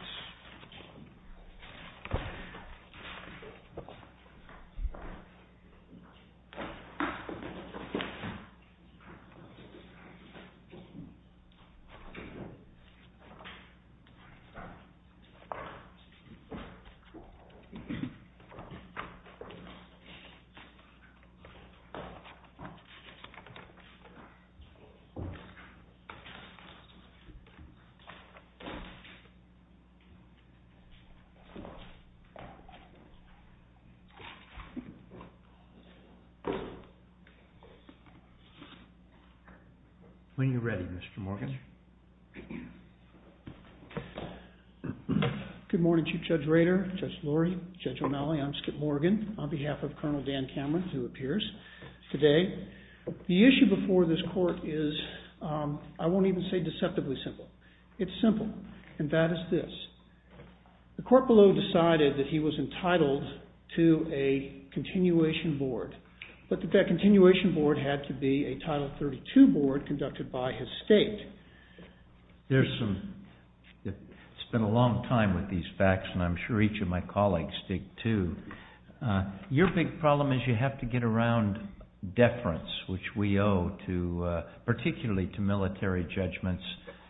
The United States Army Corps of Engineers, is committed to creating a future for all Americans. When you're ready, Mr. Morgan. Good morning, Chief Judge Rader, Judge Lurie, Judge O'Malley, I'm Skip Morgan, on behalf of Colonel Dan Cameron, who appears today. The issue before this court is, I won't even say deceptively simple. It's simple, and that is this. The court below decided that he was entitled to a continuation board, but that that continuation board had to be a Title 32 board conducted by his state. It's been a long time with these facts, and I'm sure each of my colleagues did too. Your big problem is you have to get around deference, which we owe particularly to military judgments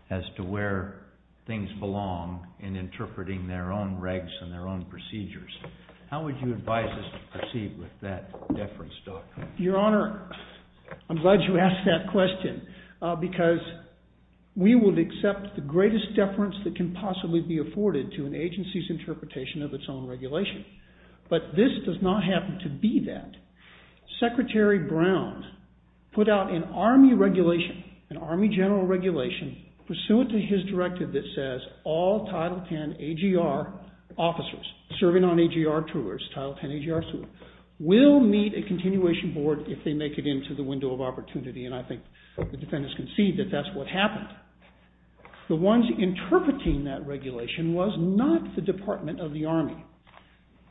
as to where things belong in interpreting their own regs and their own procedures. How would you advise us to proceed with that deference doctrine? Your Honor, I'm glad you asked that question, because we would accept the greatest deference that can possibly be afforded to an agency's interpretation of its own regulation. But this does not happen to be that. Secretary Brown put out an Army regulation, an Army general regulation, pursuant to his directive that says all Title 10 AGR officers serving on AGR tours, Title 10 AGR tours, will meet a continuation board if they make it into the window of opportunity, and I think the defendants concede that that's what happened. The ones interpreting that regulation was not the Department of the Army.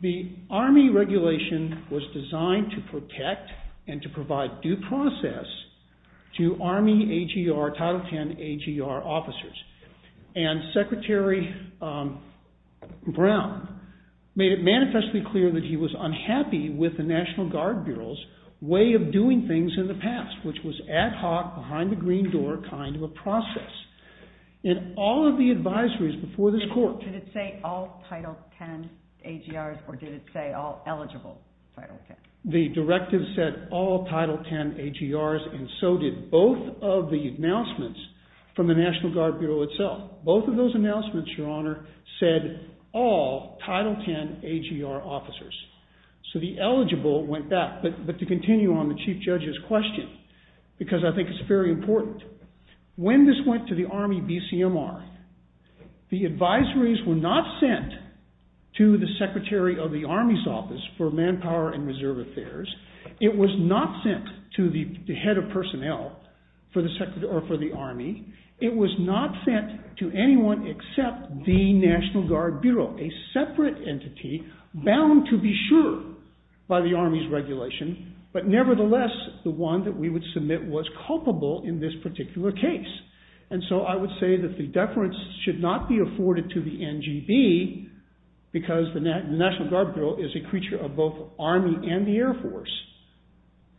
The Army regulation was designed to protect and to provide due process to Army AGR, Title 10 AGR officers, and Secretary Brown made it manifestly clear that he was unhappy with the National Guard Bureau's way of doing things in the past, which was ad hoc, behind the green door kind of process. In all of the advisories before this Court Did it say all Title 10 AGRs or did it say all eligible Title 10? The directive said all Title 10 AGRs and so did both of the announcements from the National Guard Bureau itself. Both of those announcements, Your Honor, said all Title 10 AGR officers. So the eligible went back, but to continue on the Chief Judge's question, because I think it's very important, when this went to the Army BCMR, the advisories were not sent to the Secretary of the Army's Office for Manpower and Reserve Affairs. It was not sent to the Head of Personnel for the Army. It was not sent to anyone except the National Guard Bureau, a separate entity bound to be sure by the Army's regulation, but nevertheless the one that we would submit was culpable in this particular case. And so I would say that the deference should not be afforded to the NGB because the National Guard Bureau is a creature of both Army and the Air Force.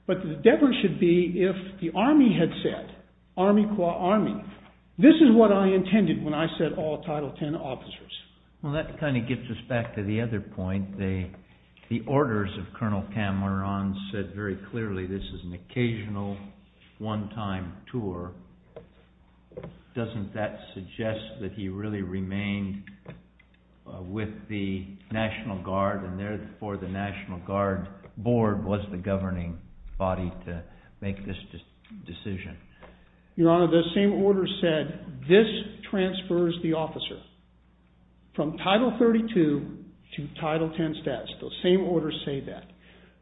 But the deference should be if the Army had said, Army qua Army, this is what I intended when I said all Title 10 officers. Well that kind of gets us back to the other point. The orders of Colonel Cameron said very clearly this is an occasional one-time tour. Doesn't that suggest that he really remained with the National Guard and therefore the National Guard Board was the governing body to make this decision? Your Honor, the same order said this transfers the officer from Title 32 to Title 10 status. Those same orders say that.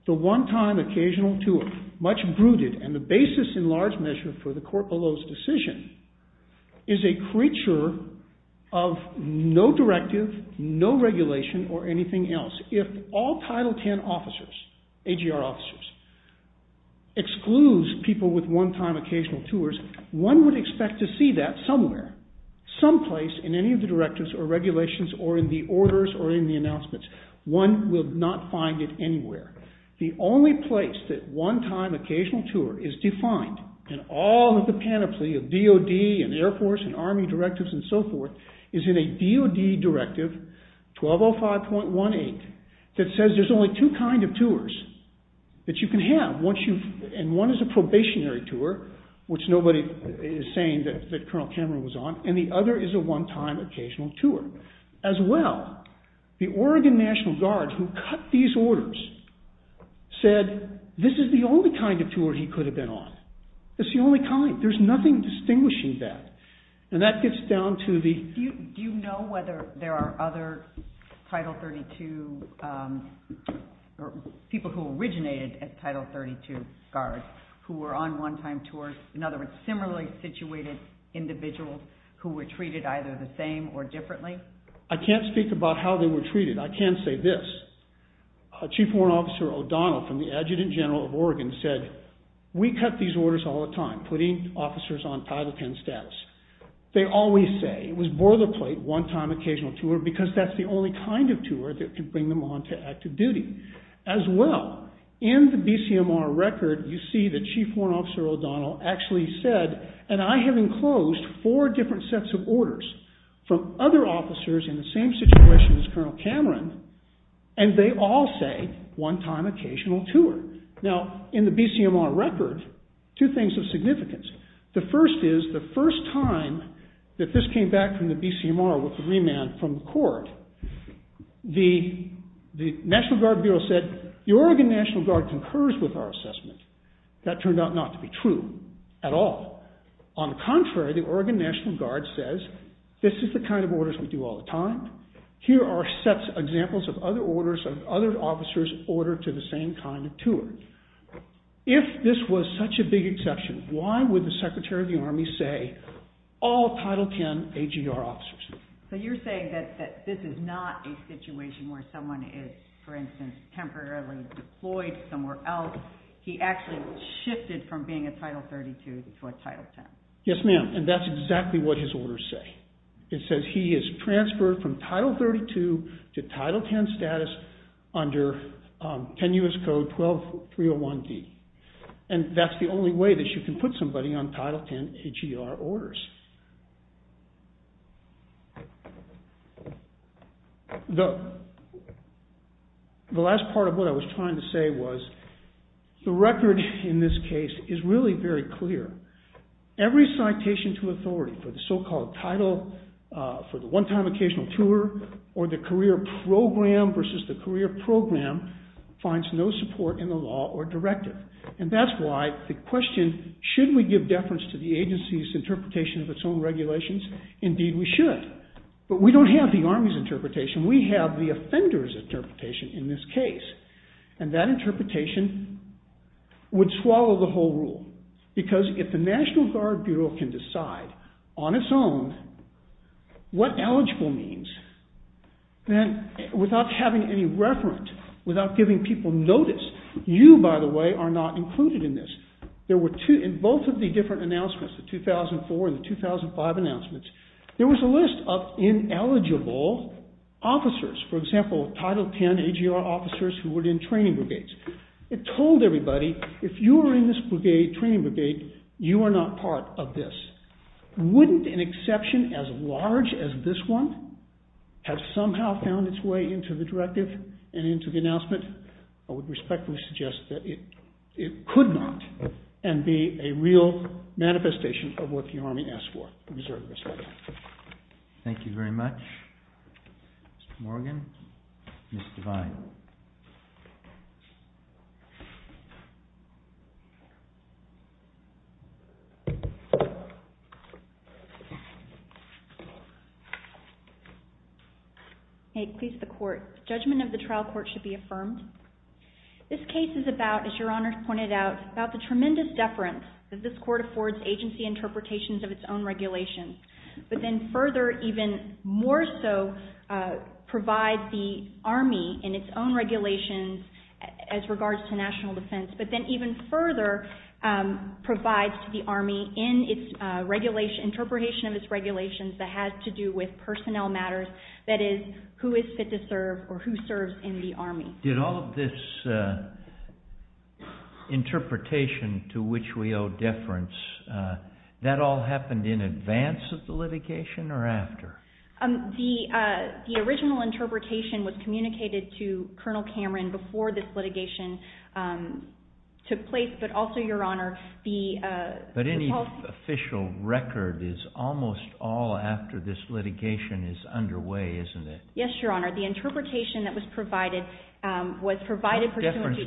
The one-time occasional tour, much brooded and the basis in large measure for the court below's decision is a creature of no directive, no regulation or anything else. If all Title 10 officers, AGR officers, excludes people with one-time occasional tours, one would expect to see that somewhere, someplace in any of the directives or regulations or in the orders or in the announcements. One will not find it anywhere. The only place that one-time occasional tour is defined in all of the panoply of DOD and Air Force and Army directives and so forth is in a 1205.18 that says there's only two kind of tours that you can have. One is a probationary tour which nobody is saying that Colonel Cameron was on and the other is a one-time occasional tour. As well, the Oregon National Guard who cut these orders said this is the only kind of tour he could have been on. It's the only kind. There's nothing distinguishing that and that gets down to the... Do you know whether there are other Title 32 people who originated as Title 32 guards who were on one-time tours, in other words, similarly situated individuals who were treated either the same or differently? I can't speak about how they were treated. I can say this. Chief Warrant Officer O'Donnell from the Adjutant General of Oregon said we cut these orders all the time, putting officers on Title 10 status. They always say it was boilerplate one-time occasional tour because that's the only kind of tour that could bring them on to active duty. As well, in the BCMR record, you see that Chief Warrant Officer O'Donnell actually said and I have enclosed four different sets of orders from other officers in the same situation as Colonel Cameron and they all say one-time occasional tour. Now, in the BCMR record, two things of significance. The first is the first time that this came back from the BCMR with the remand from the court, the National Guard Bureau said the Oregon National Guard concurs with our assessment. That turned out not to be true at all. On the contrary, the Oregon National Guard says this is the kind of orders we do all the time. Here are sets of examples of other orders of other officers ordered to the same kind of tour. If this was such a big exception, why would the Secretary of the Army say all Title 10 AGR officers? So you're saying that this is not a situation where someone is, for instance, temporarily deployed somewhere else. He actually shifted from being a Title 32 to a Title 10. Yes, ma'am. And that's exactly what his orders say. It says he is transferred from Title 32 to Title 10 status under 10 U.S. Code 12301D. And that's the only way that you can put somebody on Title 10 AGR orders. The last part of what I was trying to say was the record in this case is really very clear. Every citation to authority for the so-called title for the one-time occasional tour or the career program versus the career program finds no support in the law or directive. And that's why the question, should we give deference to the agency's interpretation of its own regulations? Indeed we should. But we don't have the Army's interpretation. We have the offender's interpretation in this case. And that interpretation would swallow the whole rule. Because if the National Guard Bureau can decide on its own what eligible means, then without having any notice. You, by the way, are not included in this. In both of the different announcements, the 2004 and the 2005 announcements, there was a list of ineligible officers. For example, Title 10 AGR officers who were in training brigades. It told everybody, if you are in this training brigade, you are not part of this. Wouldn't an exception as large as this one have somehow found its way into the directive and into the announcement? I would respectfully suggest that it could not and be a real manifestation of what the Army asked for. I reserve this right now. Thank you very much. Mr. Morgan. Ms. Devine. Judgement of the trial court should be affirmed. Judgement of the trial court should be affirmed. This case is about, as Your Honors pointed out, about the tremendous deference that this court affords agency interpretations of its own regulations. But then further, even more so, provides the Army in its own regulations as regards to national defense. But then even further provides to the Army in its interpretation of its regulations that has to do with personnel matters, that is, who is fit to serve or who serves in the Army. Did all of this interpretation to which we owe deference, that all happened in advance of the litigation or after? The original interpretation was communicated to Colonel Cameron before this litigation took place but also, Your Honor, the policy... But any official record is almost all after this litigation is underway, isn't it? Yes, Your Honor. The interpretation that was provided was provided... What deference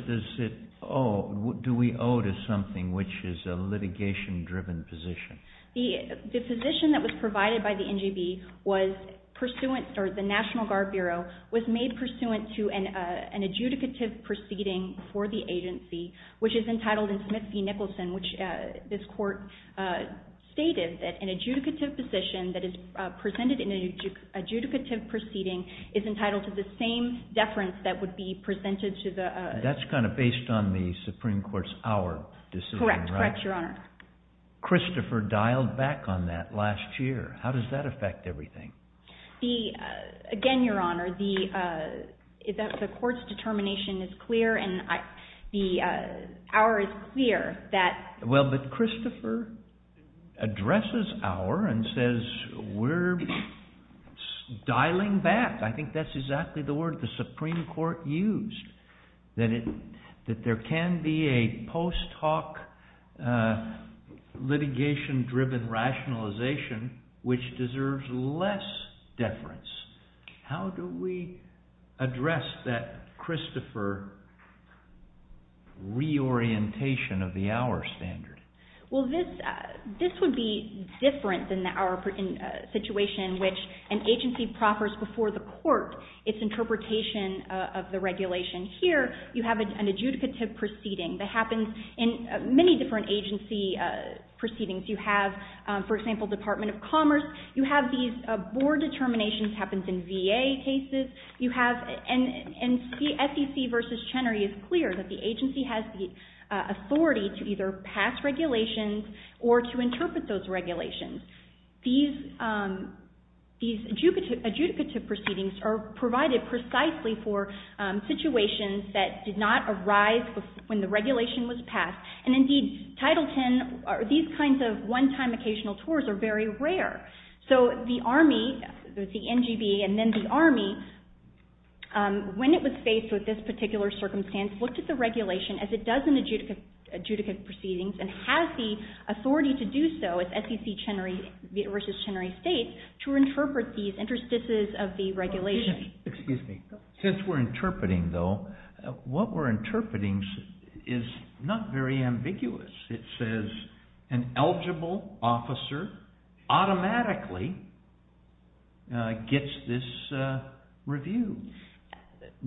do we owe to something which is a litigation-driven position? The position that was provided by the NGB was pursuant... or the National Guard Bureau was made pursuant to an adjudicative proceeding for the agency, which is entitled in Smith v. Nicholson, which this court stated that an adjudicative position that is presented in an adjudicative proceeding is entitled to the same deference that would be presented to the... That's kind of based on the Supreme Court's hour decision, right? Correct, Your Honor. Christopher dialed back on that last year. How does that affect everything? The... Again, Your Honor, the court's determination is clear and the hour is clear that... Well, but Christopher addresses hour and says we're dialing back. I think that's exactly the word the Supreme Court used, that there can be a post-talk litigation-driven rationalization which deserves less deference. How do we address that, Christopher, reorientation of the hour standard? Well, this would be different than our situation in which an agency proffers before the court its interpretation of the regulation. Here, you have an adjudicative proceeding that happens in many different agency proceedings. You have, for example, Department of Commerce. You have these board determinations, happens in VA cases. You have... And SEC v. Chenery is clear that the agency has the authority to either pass regulations or to interpret those regulations. These adjudicative proceedings are provided precisely for a rise when the regulation was passed. And indeed, Title X, these kinds of one-time occasional tours are very rare. So the Army, the NGB and then the Army, when it was faced with this particular circumstance, looked at the regulation as it does in adjudicative proceedings and has the authority to do so, as SEC v. Chenery states, to interpret these interstices of the regulation. Excuse me. Since we're interpreting is not very ambiguous. It says an eligible officer automatically gets this review.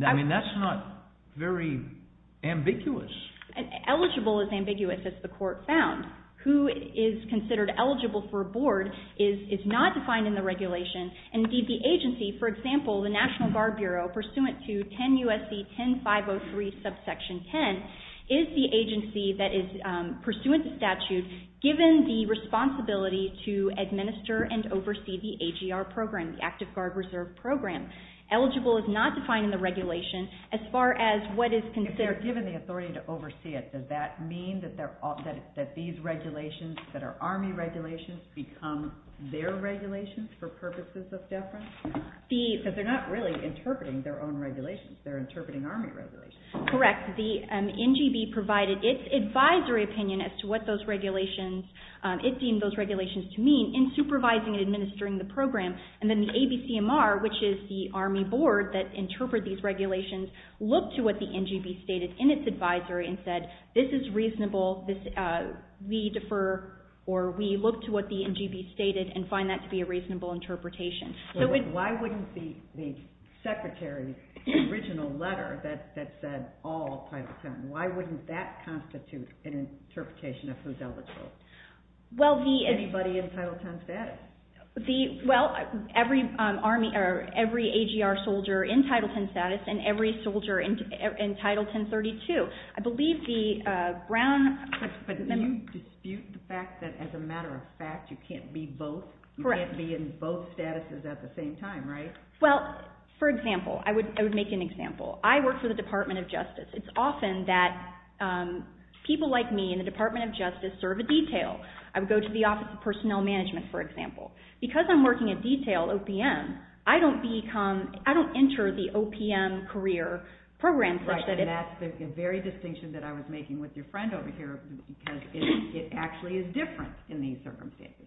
I mean, that's not very ambiguous. Eligible is ambiguous, as the court found. Who is considered eligible for a board is not defined in the regulation and indeed the agency, for example, the National Guard Bureau, pursuant to 10 U.S.C. 10503 subsection 10, is the agency that is pursuant to statute given the responsibility to administer and oversee the AGR program, the Active Guard Reserve program. Eligible is not defined in the regulation as far as what is considered... If they're given the authority to oversee it, does that mean that these regulations that are Army regulations become their regulations for purposes of deference? Because they're not really interpreting their own regulations. They're interpreting Army regulations. Correct. The NGB provided its advisory opinion as to what those regulations it deemed those regulations to mean in supervising and administering the program. And then the ABCMR, which is the Army board that interpret these regulations, looked to what the NGB stated in its advisory and said, this is reasonable. We defer or we look to what the NGB stated and find that to be a reasonable interpretation. Why wouldn't the secretary's original letter that said all Title 10, why wouldn't that constitute an interpretation of who's eligible? Anybody in Title 10 status? Every AGR soldier in Title 10 status and every soldier in Title 1032. I believe the Brown... But do you dispute the fact that as a matter of fact you can't be both? You can't be both statuses at the same time, right? Well, for example, I would make an example. I work for the Department of Justice. It's often that people like me in the Department of Justice serve a detail. I would go to the Office of Personnel Management, for example. Because I'm working a detail OPM, I don't enter the OPM career program such that... That's the very distinction that I was making with your friend over here. Because it actually is different in these circumstances.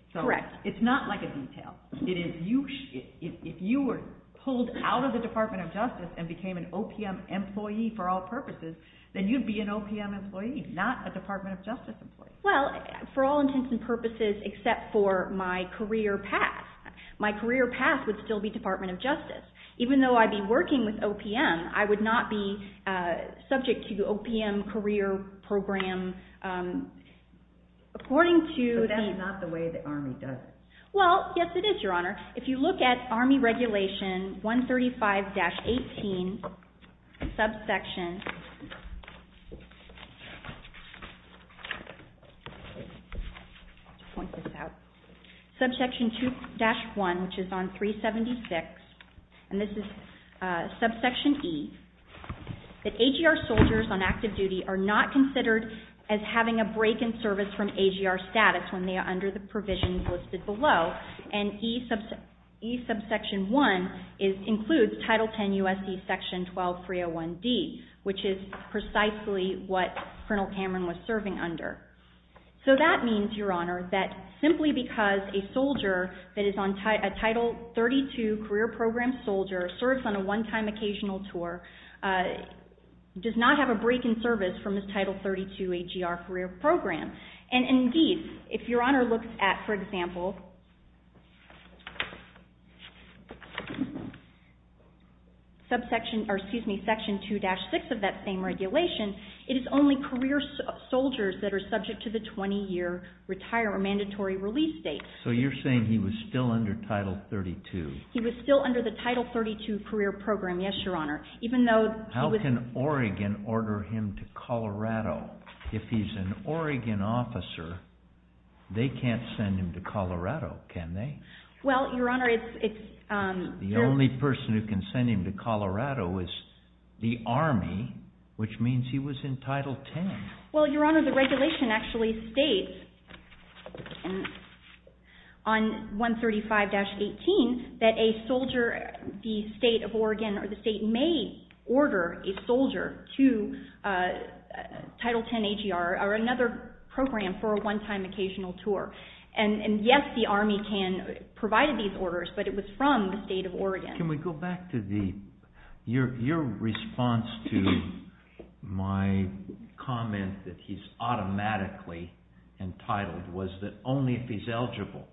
It's not like a detail. If you were pulled out of the Department of Justice and became an OPM employee for all purposes, then you'd be an OPM employee, not a Department of Justice employee. Well, for all intents and purposes except for my career path. My career path would still be Department of Justice. Even though I'd be an OPM career program. But that's not the way the Army does it. Well, yes it is, Your Honor. If you look at Army Regulation 135-18, subsection 2-1, which is on 376, and this is subsection E, that AGR soldiers on active duty are not considered as having a break in service from AGR status when they are under the provisions listed below. And E subsection 1 includes Title 10 U.S.C. Section 12-301D, which is precisely what Colonel Cameron was serving under. So that means, Your Honor, that simply because a soldier that is a Title 32 career program soldier serves on a one-time occasional tour, does not have a break in service from his Title 32 AGR career program. And indeed, if Your Honor looks at, for example, Section 2-6 of that same regulation, it is only career soldiers that are subject to the 20-year mandatory release date. So you're saying he was still under Title 32. He was still under the Title 32 career program, yes, Your Honor. How can Oregon order him to Colorado? If he's an Oregon officer, they can't send him to Colorado, can they? The only person who can send him to Colorado is the Army, which means he was in Title 10. Well, Your Honor, the regulation actually states on 135-18 that a soldier, the state of Oregon or the state, may order a soldier to Title 10 AGR or another program for a one-time occasional tour. And yes, the Army can provide these orders, but it was from the state of Oregon. Your response to my comment that he's automatically entitled was that only if he's eligible.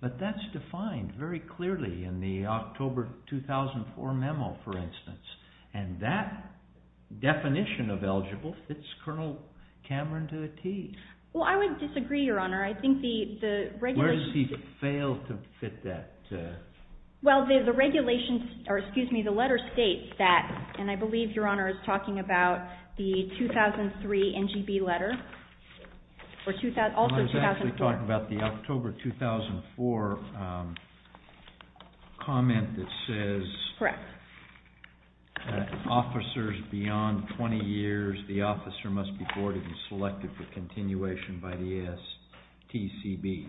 But that's defined very clearly in the October 2004 memo, for instance. And that definition of eligible fits Col. Cameron to a T. Well, I would disagree, Your Honor. I think the regulation... Where does he fail to fit that? Well, the letter states that, and I believe Your Honor is talking about the 2003 NGB letter. I was actually talking about the October 2004 comment that says that officers beyond 20 years, the officer must be awarded and selected for continuation by the ASTCB.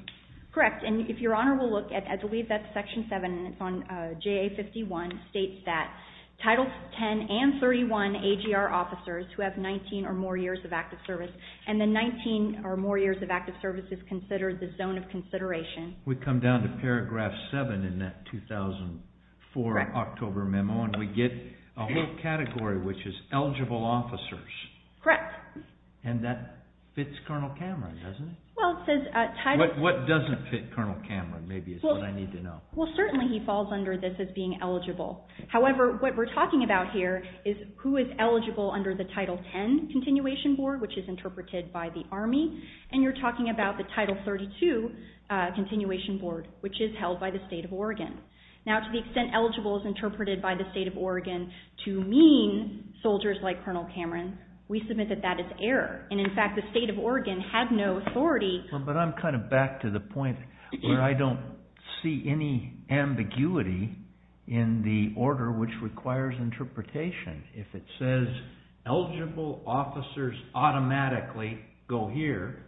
Correct, and if Your Honor will look, I believe that's Section 7, and it's on JA-51, states that Title 10 and 31 AGR officers who have 19 or more years of active service, and the 19 or more years of active service is considered the zone of consideration. We come down to Paragraph 7 in that 2004 October memo, and we get a whole category, which is eligible officers. Correct. And that fits Col. Cameron, doesn't it? Well, it says... What doesn't fit Col. Cameron, maybe is what I need to know. Well, certainly he falls under this as being eligible. However, what we're talking about here is who is eligible under the Title 10 continuation board, which is interpreted by the Army, and you're talking about the Title 32 continuation board, which is held by the state of Oregon. Now, to the extent eligible is interpreted by the state of Oregon to mean soldiers like Col. Cameron, we submit that that is error, and in fact the state of Oregon had no authority... But I'm kind of back to the point where I don't see any ambiguity in the order which requires interpretation. If it says eligible officers automatically go here,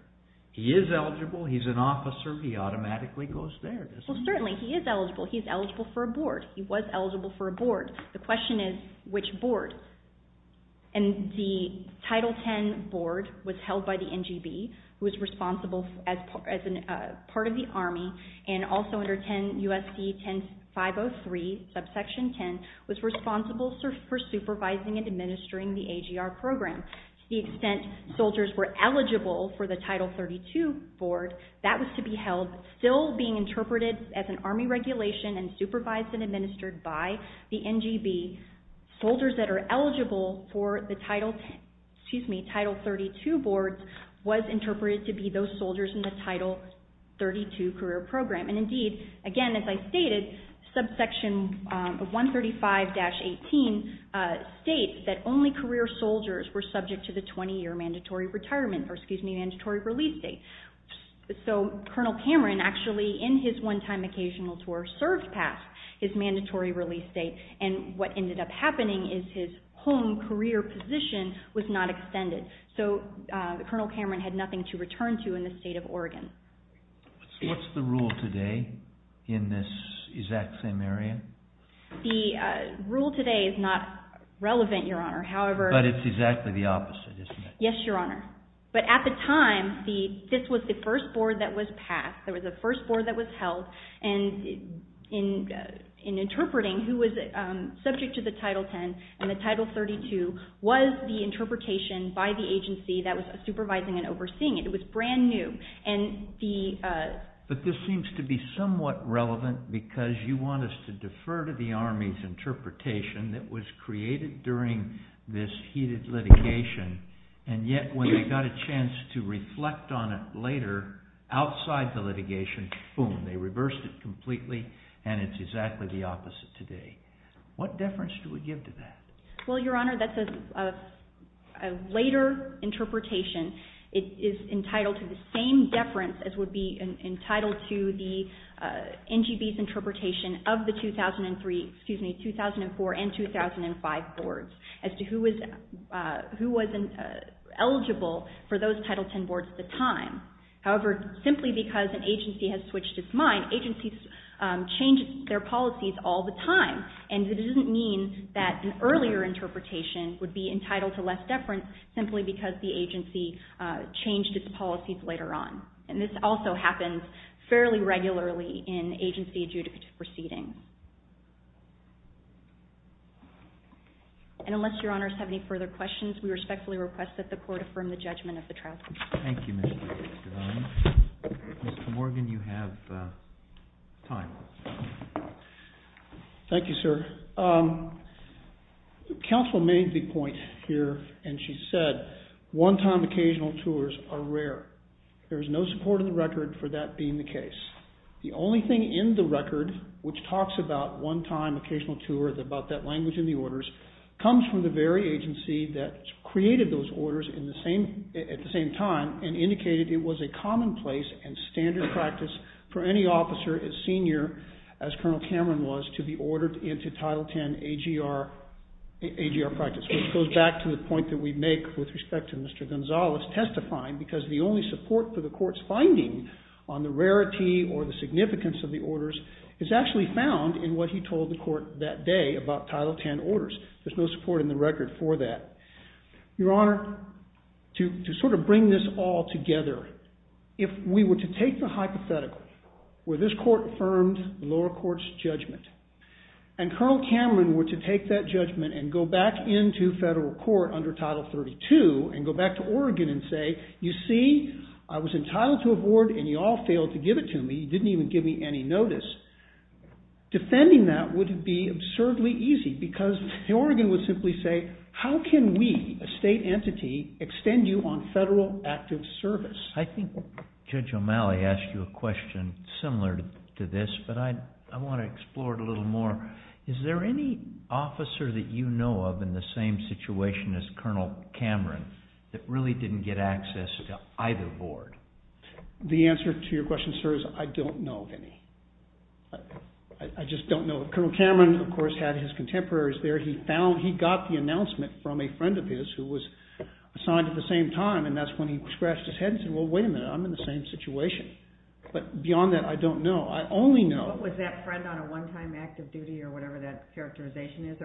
he is eligible, he's an officer, he automatically goes there, doesn't he? Well, certainly he is eligible. He's eligible for a board. He was eligible for a board. The question is which board? And the Title 10 board was held by the NGB, who was responsible as part of the Army, and also under 10 U.S.C. 10.503 subsection 10, was responsible for supervising and administering the AGR program. To the extent soldiers were eligible for the Title 32 board, that was to be held still being interpreted as an Army regulation and supervised and administered by the NGB. Soldiers that are eligible for the Title 10 excuse me, Title 32 boards was interpreted to be those soldiers in the Title 32 career program. And indeed, again, as I stated, subsection 135-18 states that only career soldiers were subject to the 20 year mandatory retirement, or excuse me, mandatory release date. So Colonel Cameron actually, in his one time occasional tour, served past his mandatory release date, and what ended up happening is his home career position was not extended. So Colonel Cameron had nothing to return to in the state of Oregon. What's the rule today in this exact same area? The rule today is not relevant, Your Honor, however... But it's exactly the opposite, isn't it? Yes, Your Honor. But at the time, this was the first board that was passed. It was the first board that was held, and in interpreting, who was subject to the Title 10 and the Title 32 was the interpretation by the agency that was supervising and overseeing it. It was brand new. But this seems to be somewhat relevant because you want us to defer to the Army's interpretation that was created during this heated litigation and yet when they got a chance to reflect on it later outside the litigation, boom, they reversed it completely and it's exactly the opposite today. What deference do we give to that? Well, Your Honor, that's a later interpretation. It is entitled to the same deference as would be entitled to the NGB's interpretation of the 2003, excuse me, 2004 and 2005 boards as to who was eligible for those Title 10 boards at the time. However, simply because an agency has switched its mind, agencies change their policies all the time and it doesn't mean that an earlier interpretation would be that the agency changed its policies later on. And this also happens fairly regularly in agency adjudicative proceedings. And unless Your Honors have any further questions, we respectfully request that the Court affirm the judgment of the trial. Thank you, Ms. Devine. Mr. Morgan, you have time. Thank you, sir. Counsel made the point here and she said one-time occasional tours are rare. There is no support in the record for that being the case. The only thing in the record which talks about one-time occasional tours, about that language in the orders, comes from the very agency that created those orders at the same time and indicated it was a commonplace and standard practice for any officer as senior as Colonel Cameron was to be ordered into Title 10 AGR practice, which goes back to the point that we make with respect to Mr. Gonzalez testifying because the only support for the Court's finding on the rarity or the significance of the orders is actually found in what he told the Court that day about Title 10 orders. There's no support in the record for that. Your Honor, to sort of bring this all together, if we were to take the hypothetical where this Court affirmed the lower court's judgment and Colonel Cameron were to take that judgment and go back into federal court under Title 32 and go back to Oregon and say you see, I was entitled to a board and you all failed to give it to me. You didn't even give me any notice. Defending that would be absurdly easy because Oregon would simply say how can we a state entity extend you on federal active service? I think Judge O'Malley asked you a question similar to this but I want to explore it a little more. Is there any officer that you know of in the same situation as Colonel Cameron that really didn't get access to either board? The answer to your question, sir, is I don't know of any. I just don't know. Colonel Cameron, of course, had his contemporaries there. He got the announcement from a friend of his who was assigned at the same time and that's when he scratched his head and said well wait a minute, I'm in the same situation. Beyond that, I don't know. I only know... Was that friend on a one-time active duty or whatever that characterization is?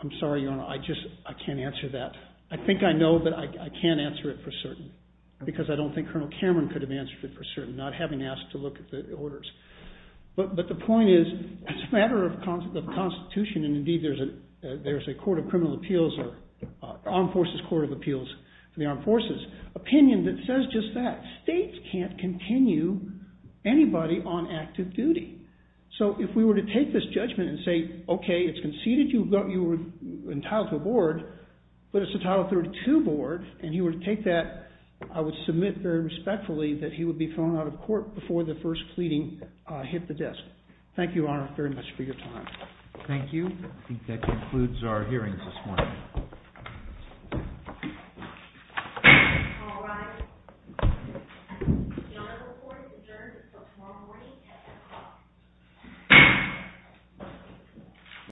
I'm sorry, Your Honor, I can't answer that. I think I know but I can't answer it for certain because I don't think Colonel Cameron could have answered it for certain, not having asked to look at the orders. But the point is, as a matter of constitution and indeed there's a Court of Criminal Appeals or Armed Forces Court of Opinion that says just that. States can't continue anybody on active duty. So if we were to take this judgment and say okay, it's conceded you were entitled to a board but it's a Title III-2 board and he were to take that, I would submit very respectfully that he would be thrown out of court before the first pleading hit the desk. Thank you, Your Honor, very much for your time. Thank you. I think that concludes our hearings this morning. All rise. The Honorable Court adjourns until tomorrow morning at 10 o'clock.